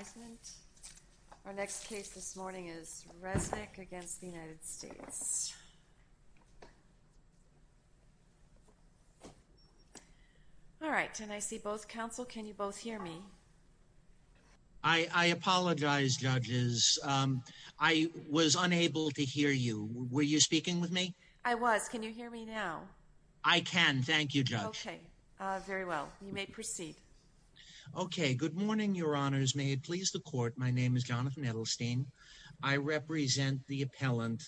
I apologize judges I was unable to hear you were you speaking with me I was can you hear me now I can thank you judge okay very well you may proceed okay good morning your honors may it please the court my name is Jonathan Edelstein I represent the appellant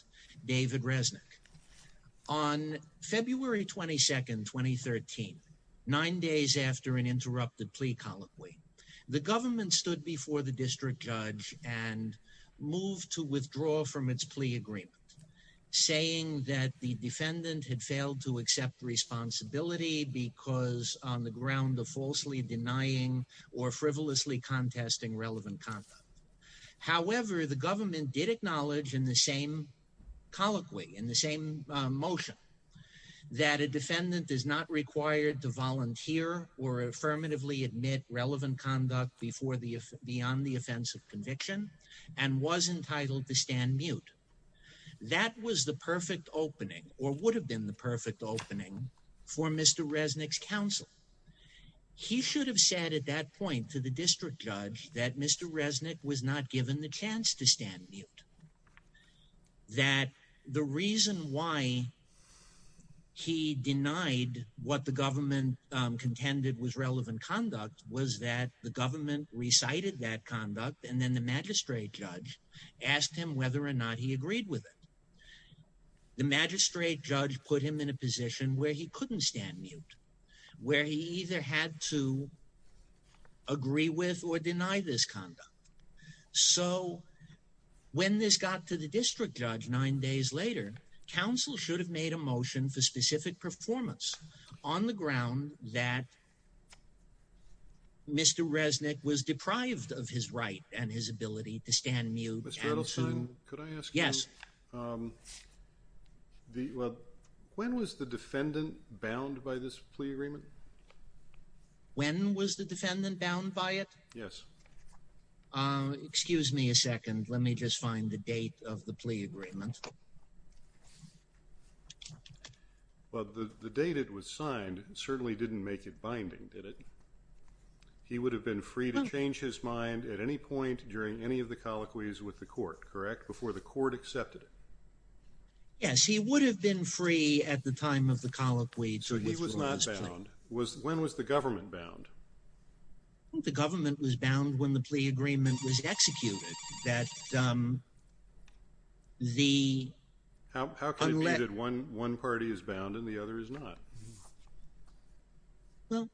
David Resnick on February 22nd 2013 nine days after an interrupted plea colloquy the government stood before the district judge and moved to withdraw from its plea agreement saying that the defendant had failed to relevant conduct however the government did acknowledge in the same colloquy in the same motion that a defendant is not required to volunteer or affirmatively admit relevant conduct before the if beyond the offense of conviction and was entitled to stand mute that was the perfect opening or would have been the perfect opening for mr. Resnick's counsel he should have said at that point to the district judge that mr. Resnick was not given the chance to stand mute that the reason why he denied what the government contended was relevant conduct was that the government recited that conduct and then the magistrate judge asked him whether or not he agreed with it the magistrate judge put him in a position where he couldn't stand mute where he either had to agree with or deny this conduct so when this got to the district judge nine days later counsel should have made a motion for specific performance on the ground that mr. Resnick was deprived of his right and his ability to stand mute yes the when was the defendant bound by this plea agreement when was the defendant bound by it yes excuse me a second let me just find the date of the plea agreement but the date it was signed certainly didn't make it binding did it he would have been free to change his mind at any point during any of the colloquies with the court correct before the court accepted it yes he would have been free at the time of the colloquy he was not bound was when was the government bound the government was bound when the plea agreement was executed that the how can I let it one one party is bound and the other is not well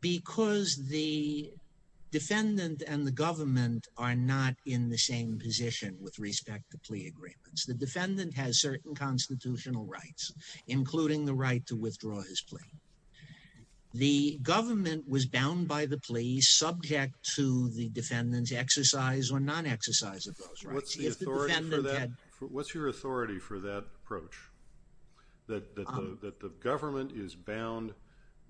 because the defendant and the government are not in the same position with respect to plea agreements the defendant has certain constitutional rights including the right to withdraw his plea the government was bound by the plea subject to the defendant's exercise or non-exercise of those rights what's your authority for that approach that the government is bound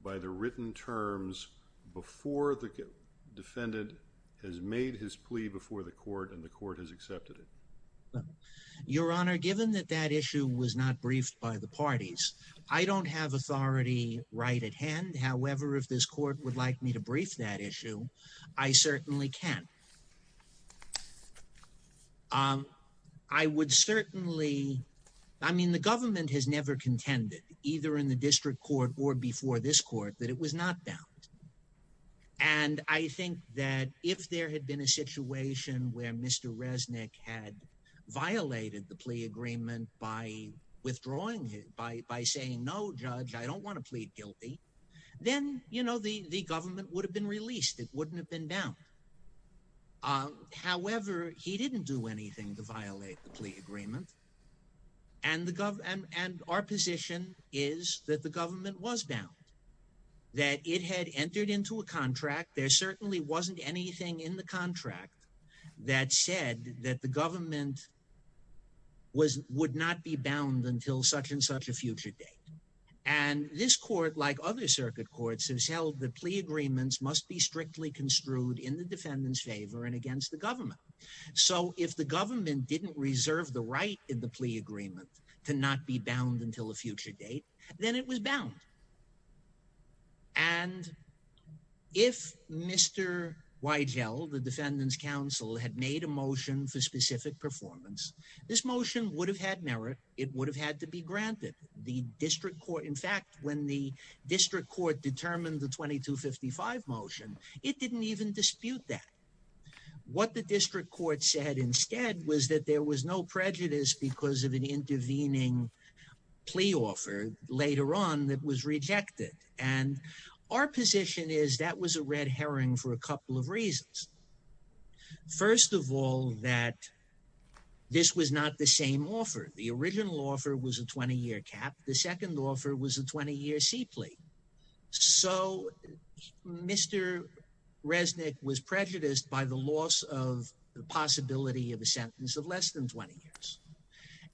by the written terms before the defendant has made his plea before the court and the court has given that that issue was not briefed by the parties I don't have authority right at hand however if this court would like me to brief that issue I certainly can I would certainly I mean the government has never contended either in the district court or before this court that it was not bound and I think that if there had been a situation where mr. Resnick had violated the plea agreement by withdrawing it by by saying no judge I don't want to plead guilty then you know the the government would have been released it wouldn't have been down however he didn't do anything to violate the plea agreement and the government and our position is that the government was down that it had entered into a contract there certainly wasn't anything in the contract that said that the government was would not be bound until such-and-such a future date and this court like other circuit courts has held the plea agreements must be strictly construed in the defendant's favor and against the government so if the government didn't reserve the right in the plea agreement to not be bound until a future date then it was bound and if mr. Weigel the defendants counsel had made a motion for specific performance this motion would have had merit it would have had to be granted the district court in fact when the district court determined the 2255 motion it didn't even dispute that what the district court said instead was that there was no prejudice because of an intervening plea offer later on that was rejected and our position is that was a first of all that this was not the same offer the original offer was a 20-year cap the second offer was a 20-year C plea so mr. Resnick was prejudiced by the loss of the possibility of a sentence of less than 20 years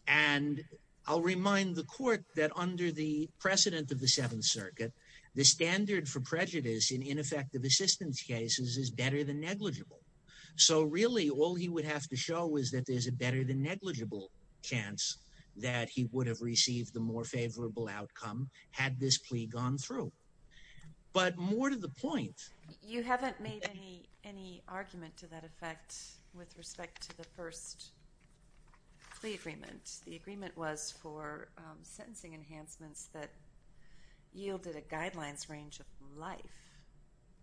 and I'll remind the court that under the precedent of the Seventh Circuit the standard for prejudice in ineffective assistance cases is better than negligible so really all he would have to show is that there's a better than negligible chance that he would have received the more favorable outcome had this plea gone through but more to the point you haven't made any any argument to that effect with respect to the first plea agreement the agreement was for sentencing enhancements that yielded a guidelines range of life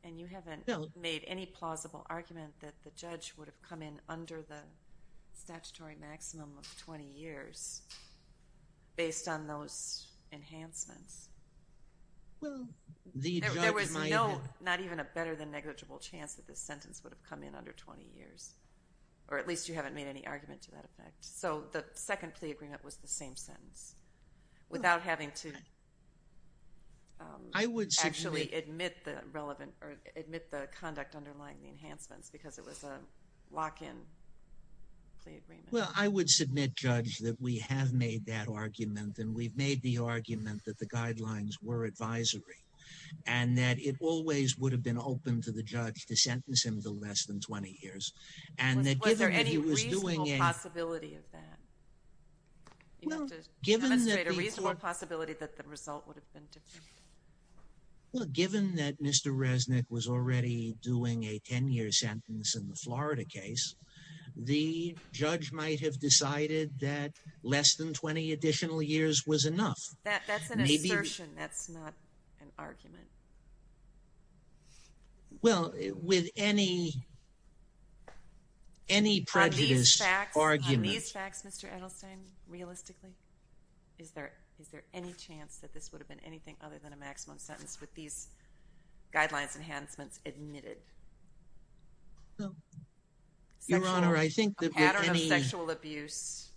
and you haven't made any plausible argument that the judge would have come in under the statutory maximum of 20 years based on those enhancements well there was no not even a better than negligible chance that this sentence would have come in under 20 years or at least you haven't made any argument to that effect so the second plea agreement was the same sentence without having to I would actually admit the relevant or admit the conduct underlying the enhancements because it was a lock-in well I would submit judge that we have made that argument and we've made the argument that the guidelines were advisory and that it always would have been open to the judge to sentence him to less than given that mr. resnick was already doing a 10-year sentence in the Florida case the judge might have decided that less than 20 additional years was enough well with any any prejudice argument realistically is there is there any chance that this would have been anything other than a maximum sentence with these guidelines enhancements admitted your honor I think the pattern of sexual abuse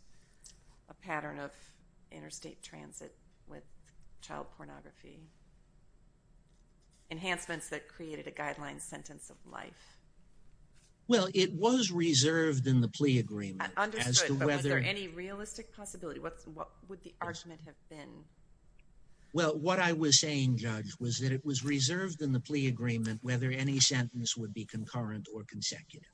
a pattern of interstate transit with child pornography enhancements that created a guideline sentence of life well it was reserved in the plea agreement there any realistic possibility what's what would the well what I was saying judge was that it was reserved in the plea agreement whether any sentence would be concurrent or consecutive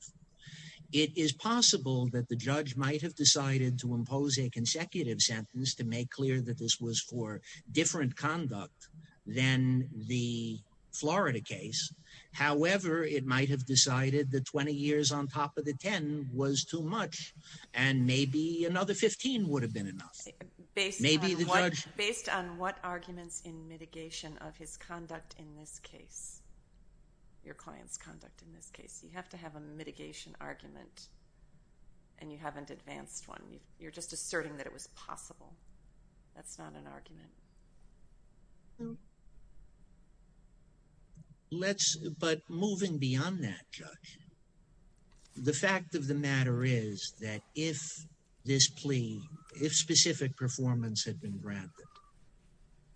it is possible that the judge might have decided to impose a consecutive sentence to make clear that this was for different conduct then the Florida case however it might have decided that 20 years on top of the 10 was too much and maybe another 15 would have been enough based maybe the judge based on what arguments in mitigation of his conduct in this case your client's conduct in this case you have to have a mitigation argument and you haven't advanced one you're just asserting that it was possible that's not an argument let's but moving beyond that judge the fact of the matter is that if this plea if specific performance had been granted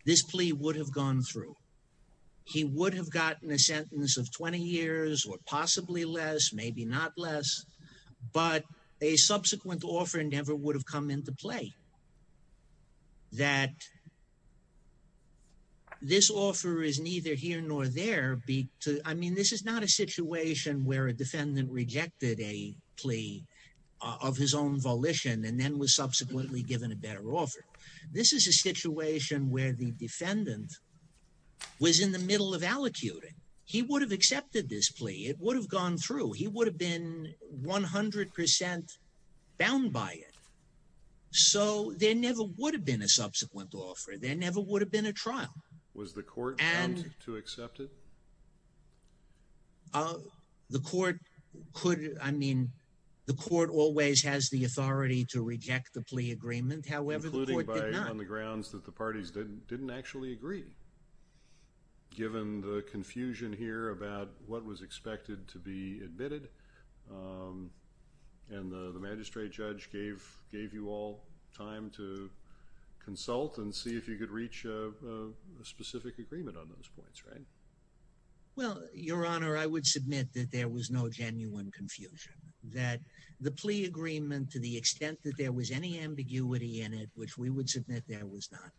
this plea would have gone through he would have gotten a sentence of 20 years or possibly less maybe not less but a subsequent offer never would have come into play that this offer is neither here nor there be I mean this is not a situation where a defendant rejected a plea of his own volition and then was subsequently given a better offer this is a situation where the defendant was in the middle of allocuting he would have accepted this plea it would have gone through he would have been 100% bound by it so there never would have been a subsequent offer there never would have been a trial was the court and to accept it oh the court could I mean the court always has the authority to reject the plea agreement however including by on the grounds that the parties didn't didn't actually agree given the confusion here about what was expected to be admitted and the magistrate judge gave gave you all time to consult and see if you could reach a specific agreement on those points right well your honor I would submit that there was no genuine confusion that the plea agreement to the extent that there was any ambiguity in it which we would submit there was not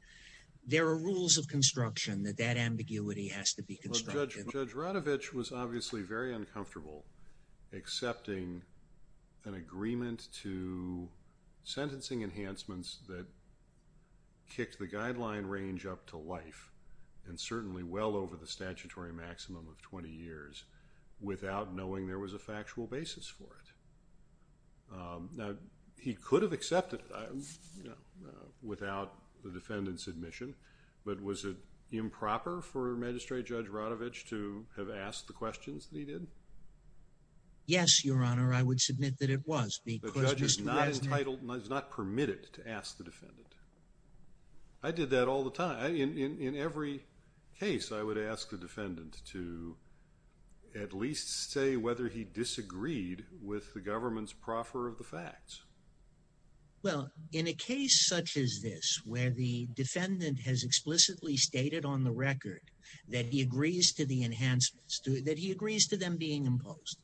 there are rules of construction that that ambiguity has to be judged judge Radovich was obviously very uncomfortable accepting an agreement to enhancements that kicked the guideline range up to life and certainly well over the statutory maximum of 20 years without knowing there was a factual basis for it now he could have accepted without the defendant's admission but was it improper for magistrate judge Radovich to have asked the questions that he did yes your honor I would submit that it was the judge is not entitled not permitted to ask the defendant I did that all the time in every case I would ask the defendant to at least say whether he disagreed with the government's proffer of the facts well in a case such as this where the defendant has explicitly stated on the record that he agrees to the enhancements to that he agrees to them being imposed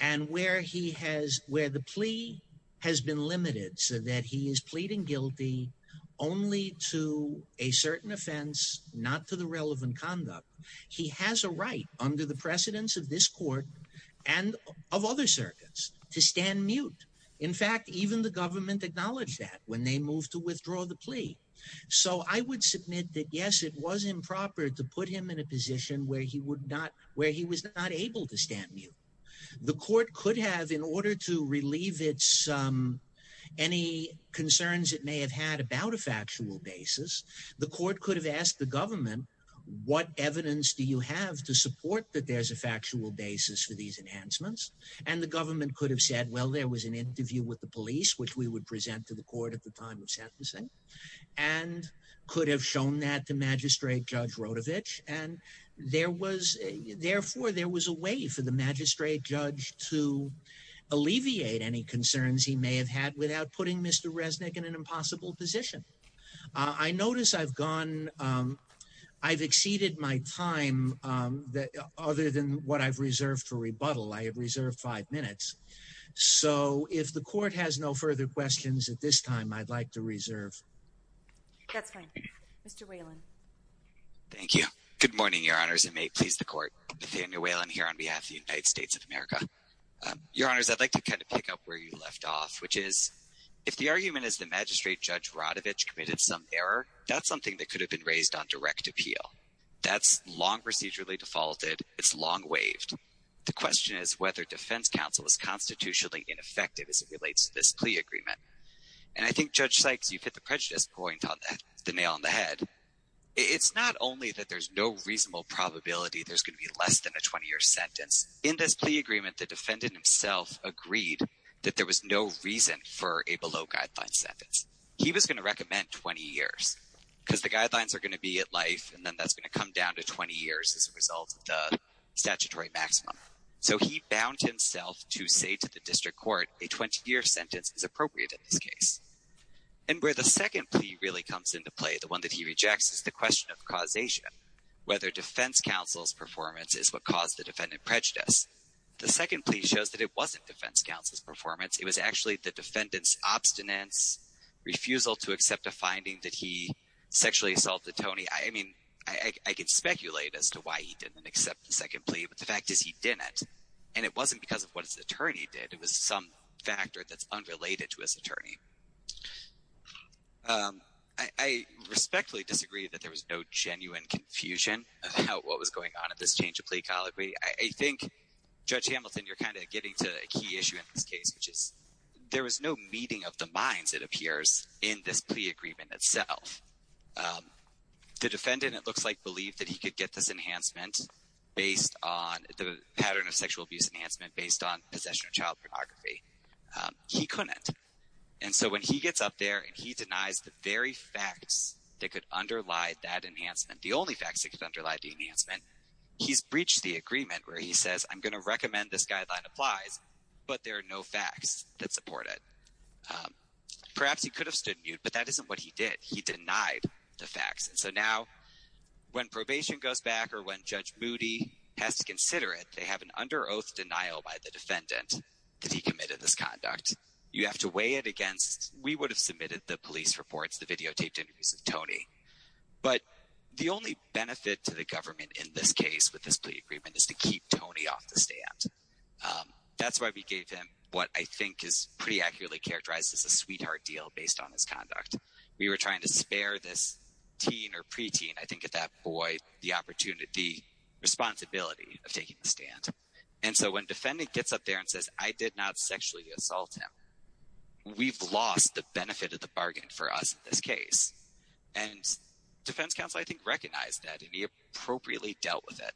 and where he has where the plea has been limited so that he is pleading guilty only to a certain offense not to the relevant conduct he has a right under the precedence of this court and of other circuits to stand mute in fact even the government acknowledged that when they moved to withdraw the plea so I would submit that yes it was improper to put him in a stand you the court could have in order to relieve its any concerns it may have had about a factual basis the court could have asked the government what evidence do you have to support that there's a factual basis for these enhancements and the government could have said well there was an interview with the police which we would present to the court at the time of sentencing and could have shown that to magistrate judge Radovich and there was therefore there was a way for the magistrate judge to alleviate any concerns he may have had without putting mr. Resnick in an impossible position I notice I've gone I've exceeded my time that other than what I've reserved for rebuttal I have reserved five minutes so if the court has no further questions at this time I'd like to reserve thank you good morning your honors it may please the way I'm here on behalf the United States of America your honors I'd like to kind of pick up where you left off which is if the argument is the magistrate judge Radovich committed some error that's something that could have been raised on direct appeal that's long procedurally defaulted it's long waived the question is whether defense counsel is constitutionally ineffective as it relates to this plea agreement and I think judge Sykes you've hit the prejudice point on that the nail on the head it's not only that there's no reasonable probability there's going to be less than a 20-year sentence in this plea agreement the defendant himself agreed that there was no reason for a below guideline sentence he was going to recommend 20 years because the guidelines are going to be at life and then that's going to come down to 20 years as a result of the statutory maximum so he bound himself to say to the district court a 20-year sentence is appropriate in this case and where the second plea really comes into play the one that he rejects is the question of whether defense counsel's performance is what caused the defendant prejudice the second plea shows that it wasn't defense counsel's performance it was actually the defendants obstinance refusal to accept a finding that he sexually assaulted Tony I mean I can speculate as to why he didn't accept the second plea but the fact is he did it and it wasn't because of what his attorney did it was some factor that's unrelated to his attorney I respectfully disagree that there was no genuine confusion about what was going on at this change of plea colleague we I think judge Hamilton you're kind of getting to a key issue in this case which is there was no meeting of the minds it appears in this plea agreement itself the defendant it looks like believed that he could get this enhancement based on the pattern of sexual abuse enhancement based on possession of child pornography he couldn't and so when he gets up there and he denies the very facts that could underlie that enhancement the only facts that could underlie the enhancement he's breached the agreement where he says I'm gonna recommend this guideline applies but there are no facts that support it perhaps he could have stood mute but that isn't what he did he denied the facts and so now when probation goes back or when judge Moody has to consider it they have an under oath denial by the defendant that he committed this videotaped interviews with Tony but the only benefit to the government in this case with this plea agreement is to keep Tony off the stand that's why we gave him what I think is pretty accurately characterized as a sweetheart deal based on his conduct we were trying to spare this teen or preteen I think at that boy the opportunity responsibility of taking the stand and so when defendant gets up there and says I did not sexually assault him we've lost the benefit of bargaining for us in this case and defense counsel I think recognized that he appropriately dealt with it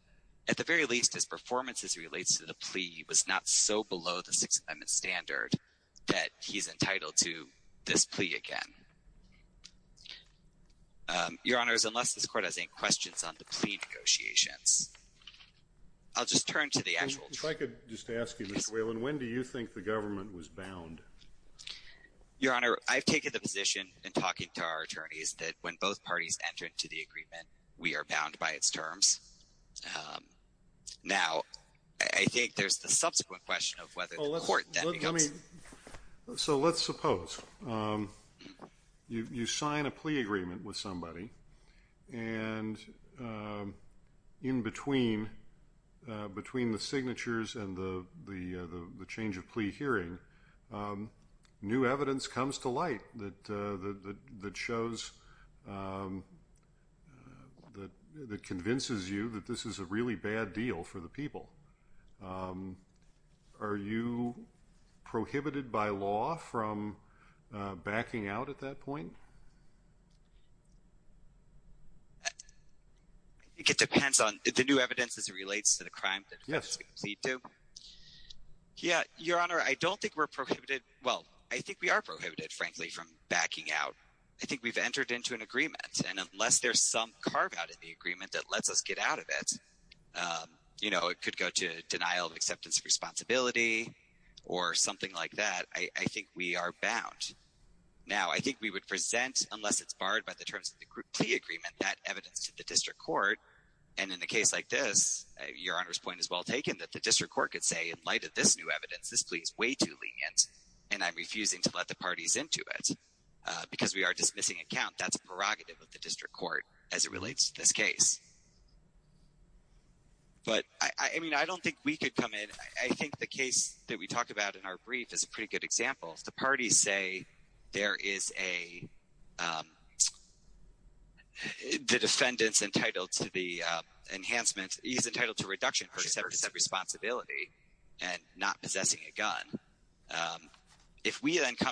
at the very least his performance as relates to the plea was not so below the Sixth Amendment standard that he's entitled to this plea again your honors unless this court has any questions on the plea negotiations I'll just turn to the actual if I could just ask you miss Whalen when do you think the government was bound your honor I've taken the position and talking to our attorneys that when both parties enter into the agreement we are bound by its terms now I think there's the subsequent question of whether the court let me so let's suppose you sign a plea agreement with somebody and in between between the signatures and the the the change of that shows that convinces you that this is a really bad deal for the people are you prohibited by law from backing out at that point it depends on the new evidence as it relates to the crime yes yeah your honor I don't think we're backing out I think we've entered into an agreement and unless there's some carve-out in the agreement that lets us get out of it you know it could go to denial of acceptance of responsibility or something like that I think we are bound now I think we would present unless it's barred by the terms of the group plea agreement that evidence to the district court and in the case like this your honors point is well taken that the district court could say in light of this new evidence this plea is way too lenient and I'm refusing to let the parties into it because we are dismissing account that's prerogative of the district court as it relates to this case but I mean I don't think we could come in I think the case that we talked about in our brief is a pretty good example if the parties say there is a the defendants entitled to the enhancement he's entitled to reduction for seven percent responsibility and not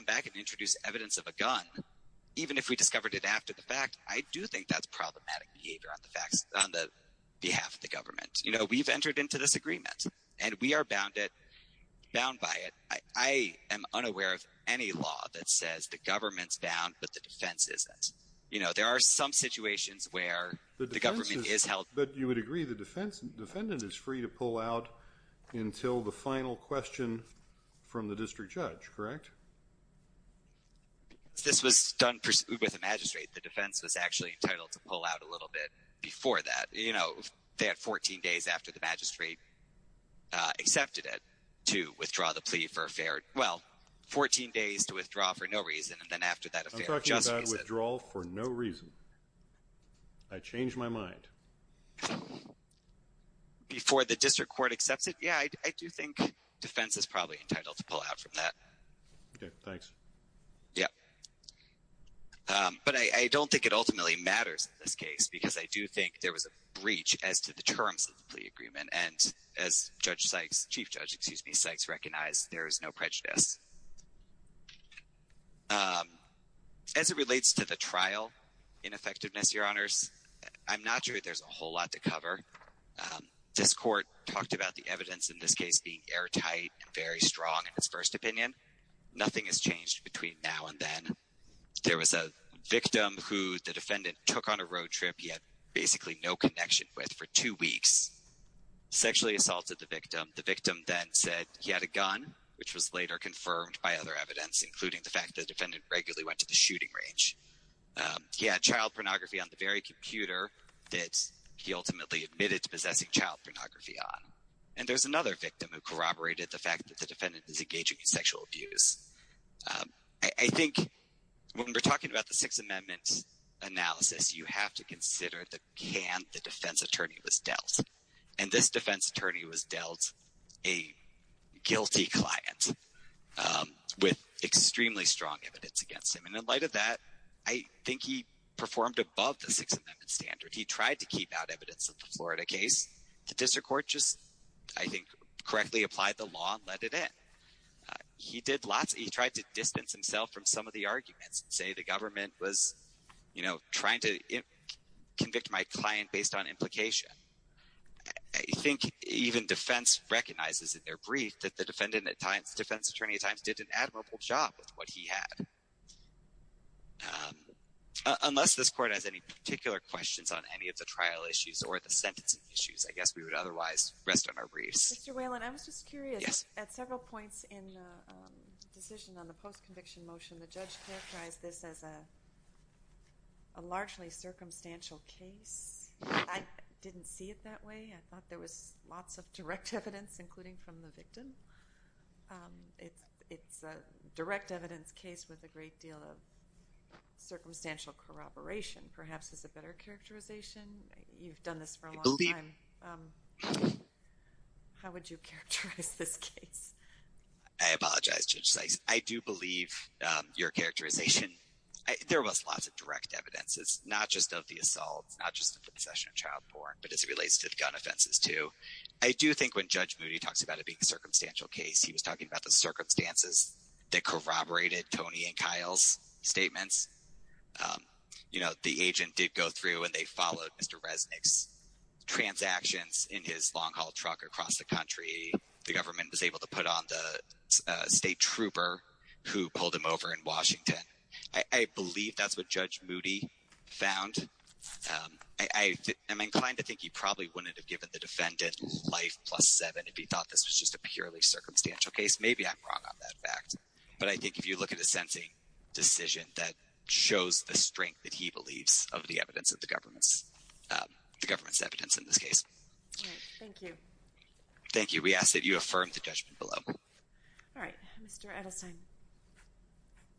I can introduce evidence of a gun even if we discovered it after the fact I do think that's problematic behavior on the facts on the behalf of the government you know we've entered into this agreement and we are bound it bound by it I am unaware of any law that says the government's bound but the defense is that you know there are some situations where the government is held but you would agree the defense defendant is free to pull out until the final question from the district judge correct this was done with a magistrate the defense was actually entitled to pull out a little bit before that you know they had 14 days after the magistrate accepted it to withdraw the plea for a fair well 14 days to withdraw for no reason and then after that withdrawal for no reason I changed my mind before the district court accepts it yeah I do think defense is probably entitled to pull out from that yeah but I don't think it ultimately matters in this case because I do think there was a breach as to the terms of the plea agreement and as judge Sykes chief judge excuse me Sykes recognized there is no prejudice as it relates to the trial ineffectiveness your honors I'm not sure there's a whole lot to cover this court talked about the evidence in this case being airtight and very strong in his first opinion nothing has changed between now and then there was a victim who the defendant took on a road trip he had basically no connection with for two weeks sexually assaulted the victim the victim then said he had a gun which was later confirmed by other evidence including the fact that defendant regularly went to the shooting range yeah child pornography on the very and there's another victim who corroborated the fact that the defendant is engaging in sexual abuse I think when we're talking about the Sixth Amendment analysis you have to consider the can the defense attorney was dealt and this defense attorney was dealt a guilty client with extremely strong evidence against him and in light of that I think he performed above the Sixth Amendment standard he tried to keep out evidence of the Florida case the district court just I think correctly applied the law and let it in he did lots he tried to distance himself from some of the arguments say the government was you know trying to convict my client based on implication I think even defense recognizes in their brief that the defendant at times defense attorney at times did an admirable job with what he had unless this court has any particular questions on any of the trial issues or the issues I guess we would otherwise rest on our briefs well and I was just curious yes at several points in decision on the post conviction motion the judge characterized this as a largely circumstantial case I didn't see it that way I thought there was lots of direct evidence including from the victim it's it's a direct evidence case with a great deal of circumstantial corroboration perhaps is a better characterization you've done this for a little bit how would you characterize this case I apologize to say I do believe your characterization there was lots of direct evidences not just of the assaults not just a possession of child porn but as it relates to the gun offenses too I do think when judge Moody talks about it being a circumstantial case he was talking about the circumstances that corroborated Tony and Kyle's statements you know the agent did go through and they followed mr. Resnick's transactions in his long-haul truck across the country the government was able to put on the state trooper who pulled him over in Washington I believe that's what judge Moody found I am inclined to think he probably wouldn't have given the defendant life plus seven if he thought this was just a purely circumstantial case maybe I'm wrong on that fact but I think if you look at a sensing decision that shows the strength that he believes of the evidence of the government's evidence in this case thank you we ask that you affirm the judgment below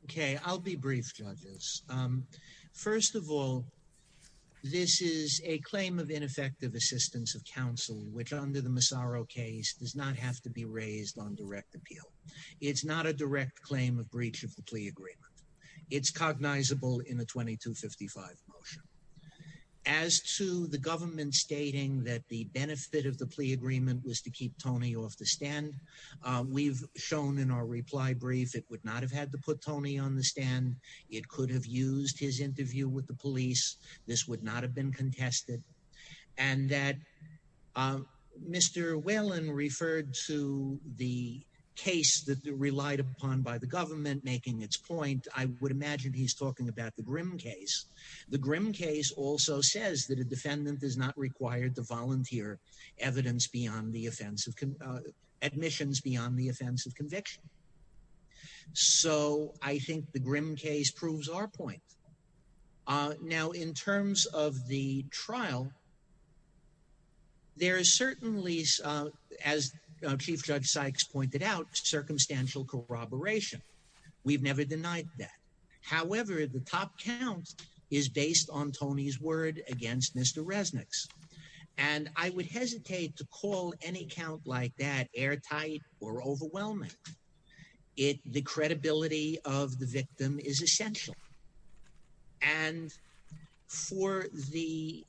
okay I'll be brief judges first of all this is a claim of ineffective assistance of counsel which under the Massaro case does not have to be raised on direct appeal it's not a direct claim of breach of the plea agreement it's cognizable in the 2255 motion as to the government stating that the benefit of the plea agreement was to keep Tony off the stand we've shown in our reply brief it would not have had to put Tony on the stand it could have used his interview with the police this would not have been contested and that mr. Whelan referred to the case that the relied upon by the government making its point I would imagine he's talking about the grim case the grim case also says that a defendant is not required to volunteer evidence beyond the offensive admissions beyond the offensive conviction so I think the grim case our point now in terms of the trial there is certainly as chief judge Sykes pointed out circumstantial corroboration we've never denied that however the top count is based on Tony's word against mr. Resnick's and I would hesitate to call any count like that airtight or overwhelming it the credibility of the and for the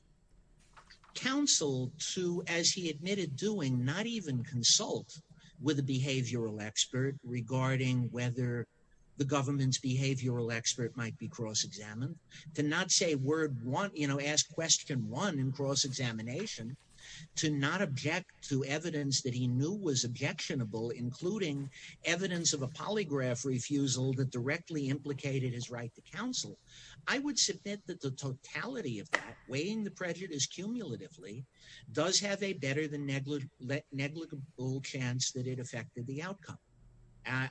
council to as he admitted doing not even consult with a behavioral expert regarding whether the government's behavioral expert might be cross-examined to not say word want you know ask question one in cross-examination to not object to evidence that he knew was objectionable including evidence of a polygraph refusal that directly implicated his right to counsel I would submit that the totality of that weighing the prejudice cumulatively does have a better than negligible chance that it affected the outcome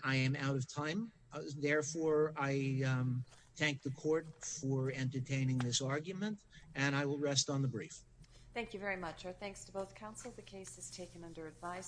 I am out of time therefore I thank the court for entertaining this argument and I will rest on the brief thank you very much our thanks to both the case is taken under advice